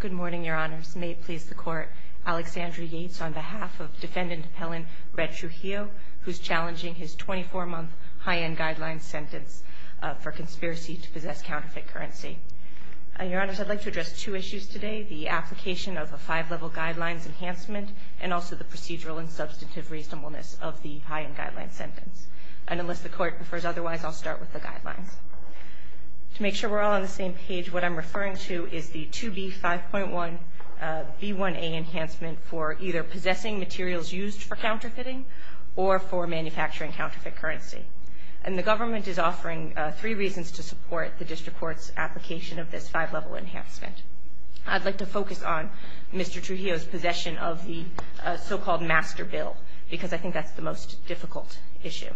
Good morning, your honors. May it please the court, Alexandria Yates on behalf of defendant Helen Rhett Trujillo who's challenging his 24-month high-end guidelines sentence for conspiracy to possess counterfeit currency. Your honors, I'd like to address two issues today. The application of a five-level guidelines enhancement and also the procedural and substantive reasonableness of the high-end guidelines sentence. And unless the court prefers otherwise, I'll start with the guidelines. To make sure we're all on the same page, what I'm referring to is the 2B 5.1 B1a enhancement for either possessing materials used for counterfeiting or for manufacturing counterfeit currency. And the government is offering three reasons to support the district court's application of this five-level enhancement. I'd like to focus on Mr. Trujillo's possession of the so-called master bill because I think that's the most difficult issue.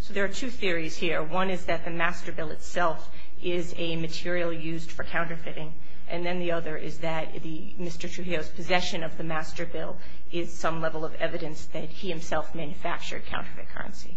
So there are two theories here. One is that the master bill itself is a material used for counterfeiting. And then the other is that the Mr. Trujillo's possession of the master bill is some level of evidence that he himself manufactured counterfeit currency.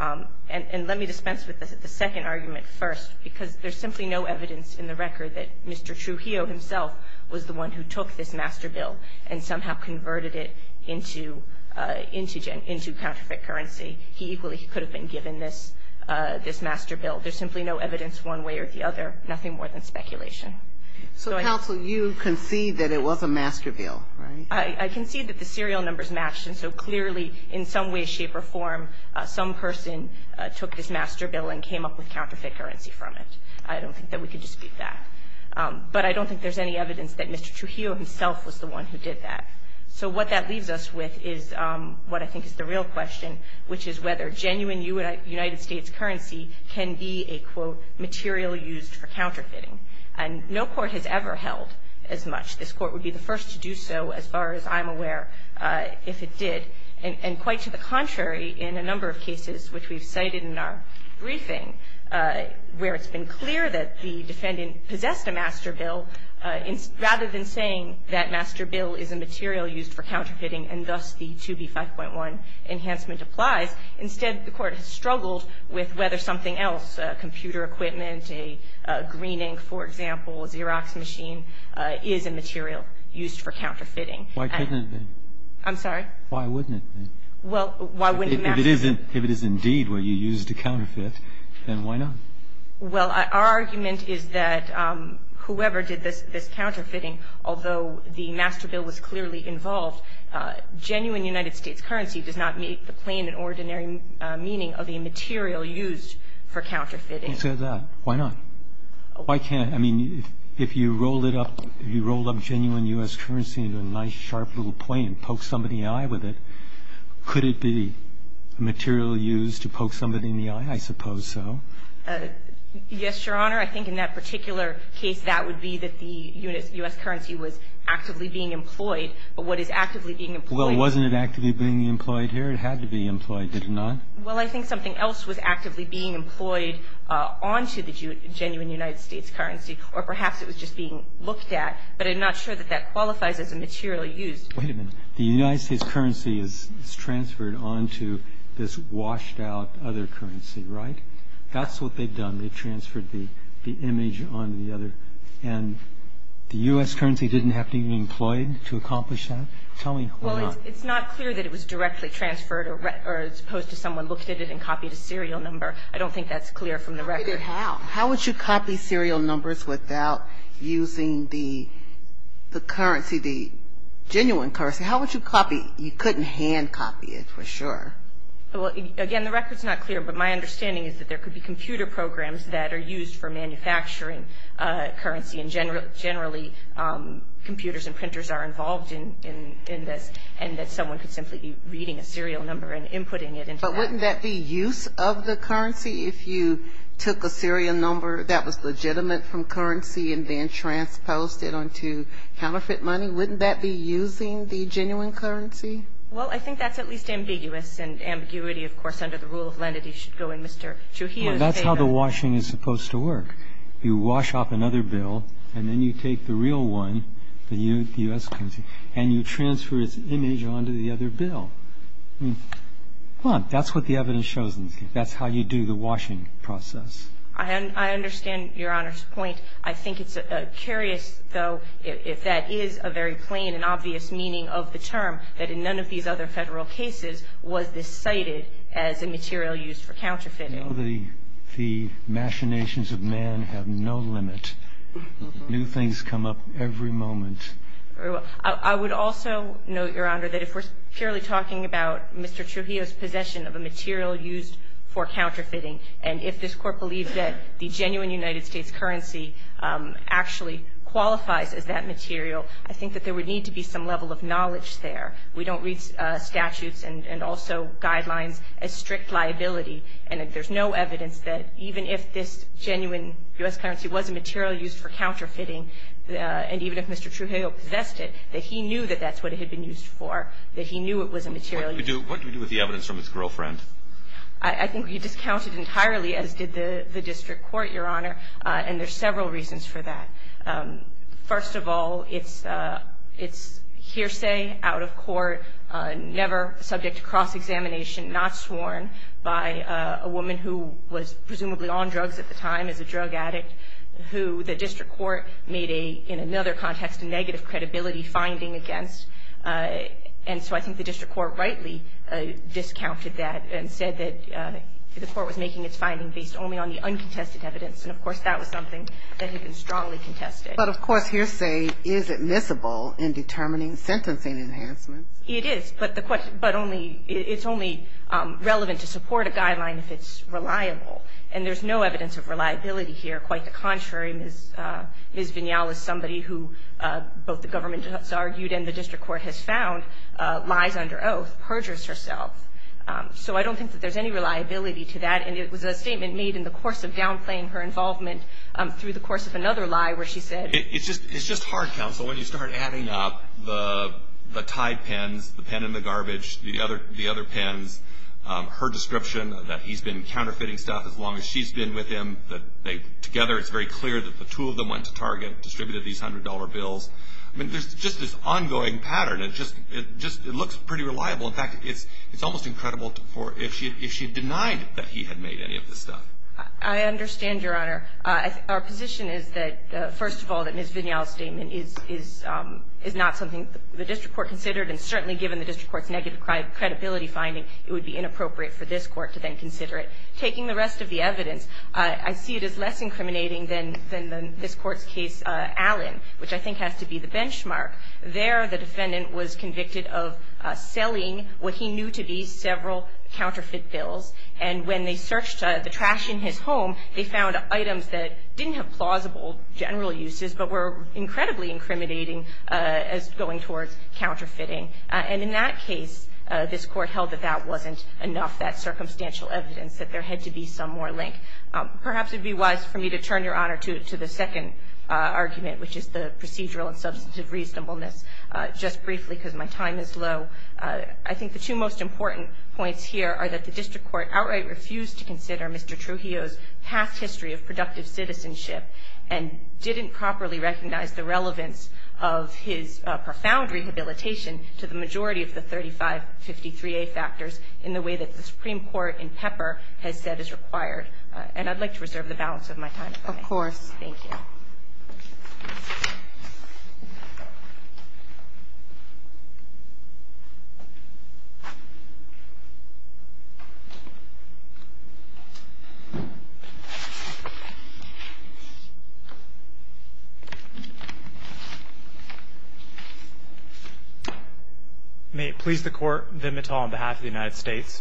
And let me dispense with the second argument first because there's simply no evidence in the record that Mr. Trujillo himself was the one who took this master bill and somehow converted it into into counterfeit currency. He equally could have been given this master bill. There's simply no evidence one way or the other, nothing more than speculation. So counsel, you concede that it was a master bill, right? I concede that the serial numbers match. And so clearly, in some way, shape or form, some person took this master bill and came up with counterfeit currency from it. I don't think that we can dispute that. But I don't think there's any evidence that Mr. Trujillo himself was the one who did that. So what that leaves us with is what I think is the real question, which is whether genuine United States currency can be a, quote, material used for counterfeiting. And no court has ever held as much. This court would be the first to do so, as far as I'm aware, if it did. And quite to the contrary, in a number of cases which we've cited in our briefing, where it's been clear that the defendant possessed a master bill, rather than saying that master bill is a material used for counterfeiting and thus the 2B5.1 enhancement applies, instead the court has struggled with whether something else, computer equipment, a green ink, for example, Xerox machine, is a material used for counterfeiting. Why couldn't it be? I'm sorry? Why wouldn't it be? Well, why wouldn't master bill? If it is indeed what you used to counterfeit, then why not? Well, our argument is that whoever did this counterfeiting, although the master bill was clearly involved, genuine United States currency does not meet the plain and ordinary meaning of a material used for counterfeiting. Is that that? Why not? Why can't, I mean, if you roll it up, if you roll up genuine U.S. currency into a nice, sharp little plane, poke somebody in the eye with it, could it be a material used to poke somebody in the eye? I suppose so. Yes, Your Honor. I think in that particular case, that would be that the U.S. currency was actively being employed, but what is actively being employed? Well, wasn't it actively being employed here? It had to be employed, did it not? Well, I think something else was actively being employed onto the genuine United States currency, or perhaps it was just being looked at, but I'm not sure that that qualifies as a material used. Wait a minute. The United States currency is transferred onto this washed out other currency, right? That's what they've done. They've transferred the image onto the other, and the U.S. currency didn't have to even be employed to accomplish that? Tell me why not. Well, it's not clear that it was directly transferred, or as opposed to someone looked at it and copied a serial number. I don't think that's clear from the record. How? How would you copy serial numbers without using the currency, the genuine currency? How would you copy? You couldn't hand copy it, for sure. Well, again, the record's not clear, but my understanding is that there could be computer programs that are used for manufacturing currency, and generally computers and printers are involved in this, and that someone could simply be reading a serial number and inputting it into that. But wouldn't that be use of the currency if you took a serial number that was legitimate from currency and then transposed it onto counterfeit money? Wouldn't that be using the genuine currency? Well, I think that's at least ambiguous, and ambiguity, of course, under the rule of lenity should go in Mr. Trujillo's favor. Well, that's how the washing is supposed to work. You wash off another bill, and then you take the real one, the U.S. currency, and you transfer its image onto the other bill. Well, that's what the evidence shows. That's how you do the washing process. I understand Your Honor's point. I think it's curious, though, if that is a very plain and obvious meaning of the term, that in none of these other Federal cases was this cited as a material used for counterfeiting. The machinations of man have no limit. New things come up every moment. I would also note, Your Honor, that if we're purely talking about Mr. Trujillo's possession of a material used for counterfeiting, and if this Court believes that the genuine United States currency actually qualifies as that material, I think that there would need to be some level of knowledge there. We don't read statutes and also guidelines as strict liability, and there's no evidence that even if this genuine U.S. currency was a material used for counterfeiting, and even if Mr. Trujillo possessed it, that he knew that that's what it had been used for, that he knew it was a material used for counterfeiting. What do we do with the evidence from his girlfriend? I think we discount it entirely, as did the District Court, Your Honor, and there's several reasons for that. First of all, it's hearsay, out of court, never subject to cross-examination, not sworn by a woman who was presumably on drugs at the time, is a drug addict, who the District Court made a, in another context, a negative credibility finding against. And so I think the District Court rightly discounted that and said that the Court was making its finding based only on the uncontested evidence, and of course, that was something that had been strongly contested. But of course, hearsay is admissible in determining sentencing enhancements. It is, but the question, but only, it's only relevant to support a guideline if it's reliable, and there's no evidence of reliability here. Quite the contrary, Ms. Vignell is somebody who, both the government has argued and the District Court has found, lies under oath, perjures herself. So I don't think that there's any reliability to that, and it was a statement made in the course of downplaying her involvement through the course of another lie where she said- It's just hard, counsel, when you start adding up the tied pens, the pen in the garbage, the other pens, her description that he's been counterfeiting stuff as long as she's been with him, that they, together, it's very clear that the two of them went to Target, distributed these $100 bills, I mean, there's just this ongoing pattern. It just, it just, it looks pretty reliable. In fact, it's, it's almost incredible to, for, if she, if she denied that he had made any of this stuff. I understand, Your Honor. Our position is that, first of all, that Ms. Vignell's statement is, is, is not something the District Court considered, and certainly given the District Court's negative credibility finding, it would be inappropriate for this Court to then consider it. Taking the rest of the evidence, I, I see it as less incriminating than, than the, this Court's case, Allen, which I think has to be the benchmark. There, the defendant was convicted of selling what he knew to be several counterfeit bills, and when they searched the trash in his home, they found items that didn't have plausible general uses, but were incredibly incriminating as going towards counterfeiting. And in that case, this Court held that that wasn't enough, that circumstantial evidence, that there had to be some more link. Perhaps it would be wise for me to turn, Your Honor, to, to the second argument, which is the procedural and substantive reasonableness. Just briefly, because my time is low, I think the two most important points here are that the District Court outright refused to consider Mr. Trujillo's past history of productive citizenship, and didn't properly recognize the relevance of his profound rehabilitation to the majority of the 3553A factors in the way that the Supreme Court in Pepper has said is required. And I'd like to reserve the balance of my time. Of course. Thank you. May it please the Court, Ben Mattal on behalf of the United States.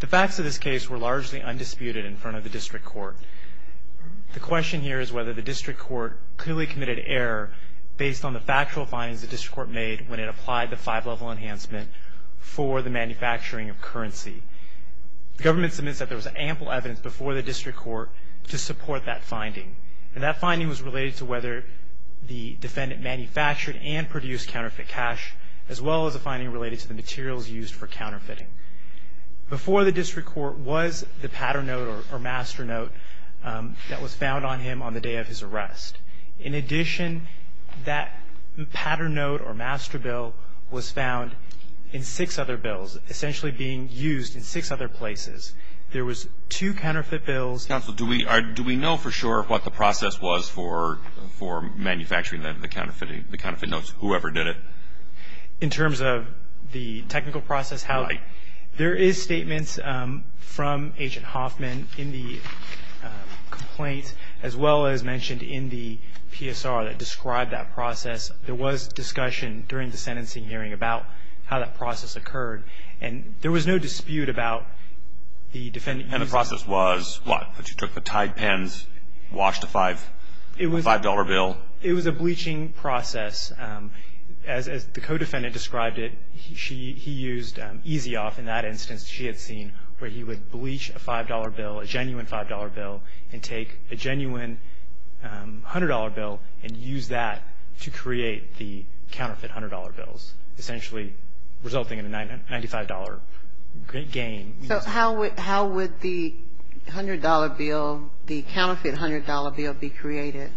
The facts of this case were largely undisputed in front of the District Court. The question here is whether the District Court clearly committed error based on the factual findings the District Court made when it applied the five-level enhancement for the manufacturing of currency. The government submits that there was ample evidence before the District Court to support that finding. And that finding was related to whether the defendant manufactured and produced counterfeit cash, as well as a finding related to the materials used for counterfeiting. Before the District Court was the pattern note or master note that was found on him on the day of his arrest. In addition, that pattern note or master bill was found in six other bills, essentially being used in six other places. There was two counterfeit bills. Counsel, do we know for sure what the process was for manufacturing the counterfeit notes, whoever did it? In terms of the technical process, there is statements from Agent Hoffman in the complaint, as well as mentioned in the PSR that describe that process. There was discussion during the sentencing hearing about how that process occurred. And there was no dispute about the defendant using- And the process was what? That you took the tied pens, washed a five-dollar bill? It was a bleaching process. As the co-defendant described it, he used Easy Off in that instance she had seen, where he would bleach a five-dollar bill, a genuine five-dollar bill, and take a genuine hundred-dollar bill, and use that to create the counterfeit hundred-dollar bills, essentially resulting in a $95 gain. So how would the hundred-dollar bill, the counterfeit hundred-dollar bill, be created?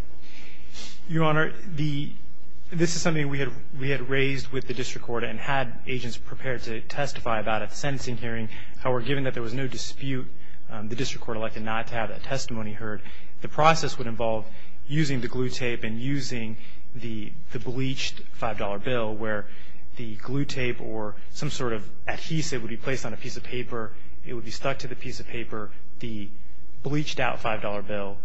Your Honor, this is something we had raised with the District Court and had agents prepared to testify about at the sentencing hearing. However, given that there was no dispute, the District Court elected not to have that testimony heard. The process would involve using the glue tape and using the bleached five-dollar bill, where the glue tape or some sort of adhesive would be placed on a piece of paper. It would be stuck to the piece of paper, the bleached-out five-dollar bill.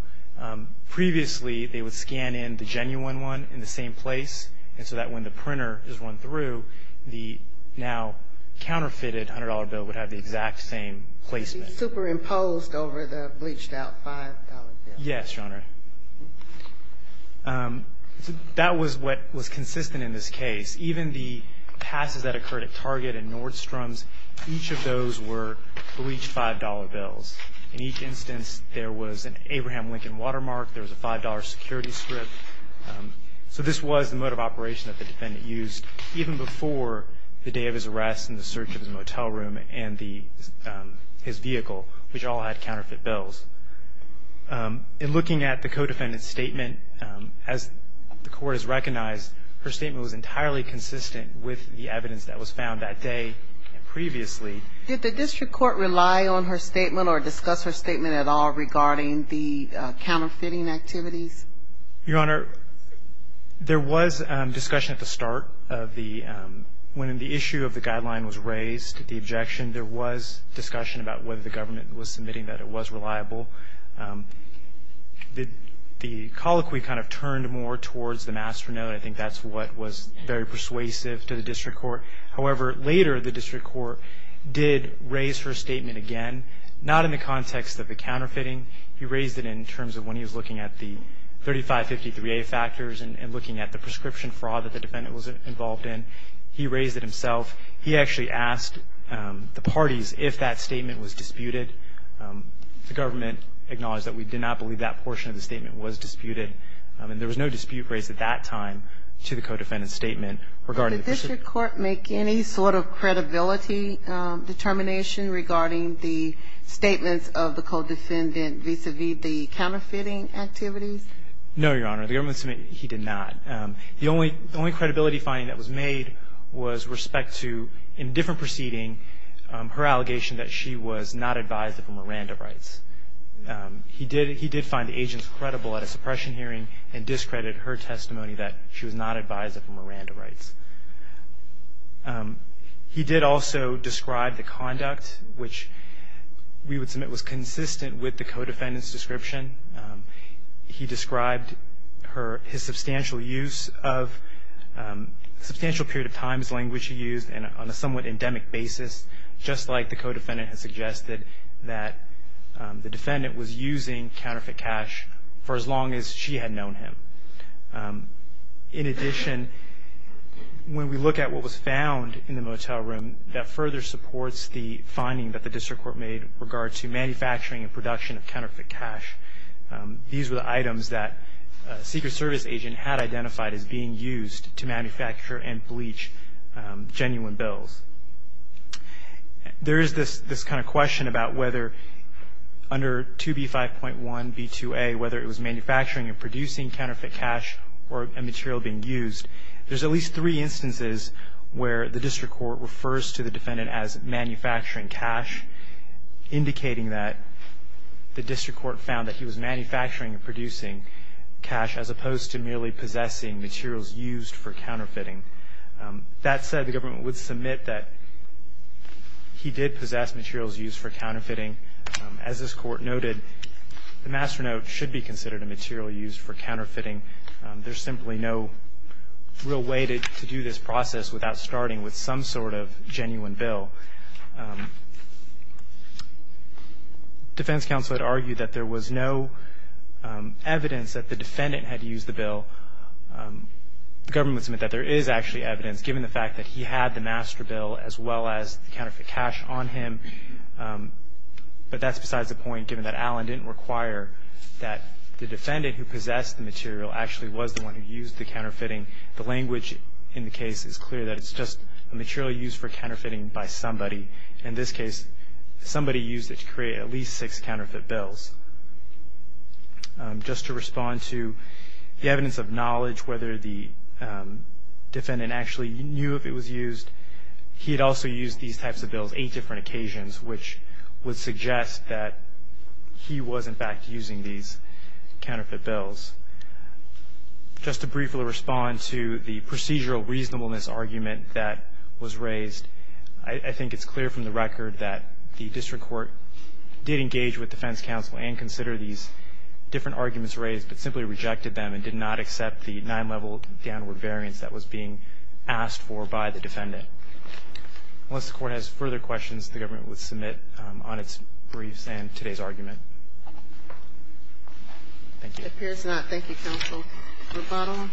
Previously, they would scan in the genuine one in the same place, and so that when the printer is run through, the now counterfeited hundred-dollar bill would have the exact same placement. It would be superimposed over the bleached-out five-dollar bill. Yes, Your Honor. That was what was consistent in this case. Even the passes that occurred at Target and Nordstrom's, each of those were bleached five-dollar bills. In each instance, there was an Abraham Lincoln watermark. There was a five-dollar security strip. So this was the mode of operation that the defendant used even before the day of his arrest and the search of his motel room and his vehicle, which all had counterfeit bills. In looking at the co-defendant's statement, as the Court has recognized, her statement was entirely consistent with the evidence that was found that day and previously. Did the District Court rely on her statement or discuss her statement at all regarding the counterfeiting activities? Your Honor, there was discussion at the start of the — when the issue of the guideline was raised, the objection, there was discussion about whether the government was submitting that it was reliable. The colloquy kind of turned more towards the masternode. I think that's what was very persuasive to the District Court. However, later, the District Court did raise her statement again, not in the context of the counterfeiting. He raised it in terms of when he was looking at the 3553A factors and looking at the prescription fraud that the defendant was involved in. He raised it himself. He actually asked the parties if that statement was disputed. The government acknowledged that we did not believe that portion of the statement was disputed. And there was no dispute raised at that time to the co-defendant's statement regarding the — Did the District Court make any sort of credibility determination regarding the statements of the co-defendant vis-à-vis the counterfeiting activities? No, Your Honor. The government submitted — he did not. The only credibility finding that was made was respect to, in a different proceeding, her allegation that she was not advised of Miranda rights. He did find the agent credible at a suppression hearing and discredited her testimony that she was not advised of Miranda rights. He did also describe the conduct, which we would submit was consistent with the co-defendant's description. He described her — his substantial use of — substantial period of time's language he used on a somewhat endemic basis, just like the co-defendant had suggested that the defendant was using counterfeit cash for as long as she had known him. In addition, when we look at what was found in the motel room, that further supports the finding that the District Court made with regard to manufacturing and production of counterfeit cash. These were the items that a Secret Service agent had identified as being used to manufacture and bleach genuine bills. There is this kind of question about whether, under 2B5.1b2a, whether it was manufacturing and producing counterfeit cash or a material being used. There's at least three instances where the District Court refers to the defendant as manufacturing cash, indicating that the District Court found that he was manufacturing and producing cash as opposed to merely possessing materials used for counterfeiting. That said, the government would submit that he did possess materials used for counterfeiting. As this Court noted, the master note should be considered a material used for counterfeiting. There's simply no real way to do this process without starting with some sort of genuine bill. Defense counsel had argued that there was no evidence that the defendant had used the bill. The government would submit that there is actually evidence, given the fact that he had the master bill as well as the counterfeit cash on him. But that's besides the point, given that Allen didn't require that the defendant who possessed the material actually was the one who used the counterfeiting. The language in the case is clear that it's just a material used for counterfeiting by somebody. In this case, somebody used it to create at least six counterfeit bills. Just to respond to the evidence of knowledge, whether the defendant actually knew if it was used, he had also used these types of bills eight different occasions, which would suggest that he was, in fact, using these counterfeit bills. Just to briefly respond to the procedural reasonableness argument that was raised, I think it's clear from the record that the district court did engage with defense counsel and consider these different arguments raised, but simply rejected them and did not accept the nine-level downward variance that was being asked for by the defendant. Unless the court has further questions, the government would submit on its briefs and today's argument. Thank you. It appears not. Thank you, counsel. The bottle.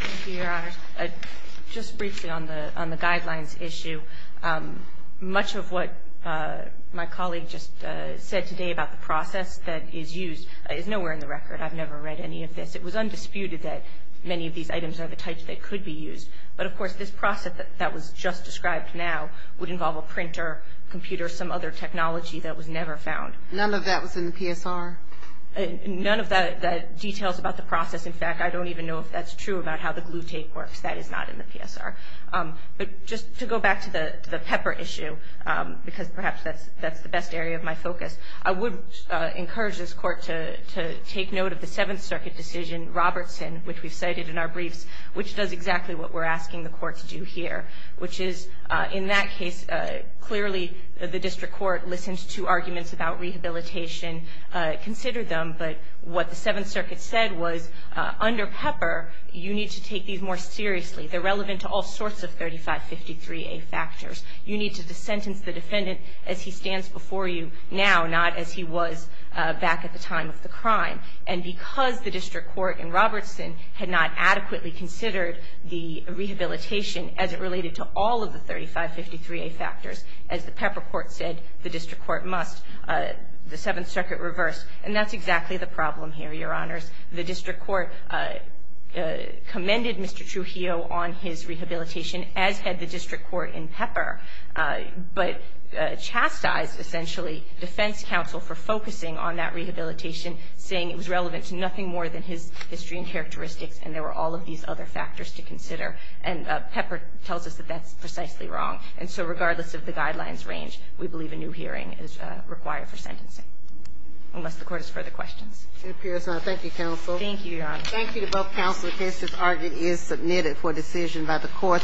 Thank you, Your Honor. Just briefly on the guidelines issue, much of what my colleague just said today about the process that is used is nowhere in the record. I've never read any of this. It was undisputed that many of these items are the types that could be used. But, of course, this process that was just described now would involve a printer, computer, some other technology that was never found. None of that was in the PSR? None of the details about the process. In fact, I don't even know if that's true about how the glue tape works. That is not in the PSR. But just to go back to the pepper issue, because perhaps that's the best area of my focus, I would encourage this Court to take note of the Seventh Circuit decision, Robertson, which we've cited in our briefs, which does exactly what we're asking the Court to do here. Which is, in that case, clearly the District Court listened to arguments about rehabilitation, considered them. But what the Seventh Circuit said was, under pepper, you need to take these more seriously. They're relevant to all sorts of 3553A factors. You need to sentence the defendant as he stands before you now, not as he was back at the time of the crime. And because the District Court in Robertson had not adequately considered the rehabilitation as it related to all of the 3553A factors, as the pepper court said, the District Court must. The Seventh Circuit reversed. And that's exactly the problem here, Your Honors. The District Court commended Mr. Trujillo on his rehabilitation, as had the District Court in pepper. But chastised, essentially, defense counsel for focusing on that rehabilitation, saying it was relevant to nothing more than his history and characteristics, and there were all of these other factors to consider. And pepper tells us that that's precisely wrong. And so, regardless of the guidelines range, we believe a new hearing is required for sentencing. Unless the Court has further questions. It appears not. Thank you, counsel. Thank you, Your Honor. Thank you to both counsel, in case this argument is submitted for decision by the Court.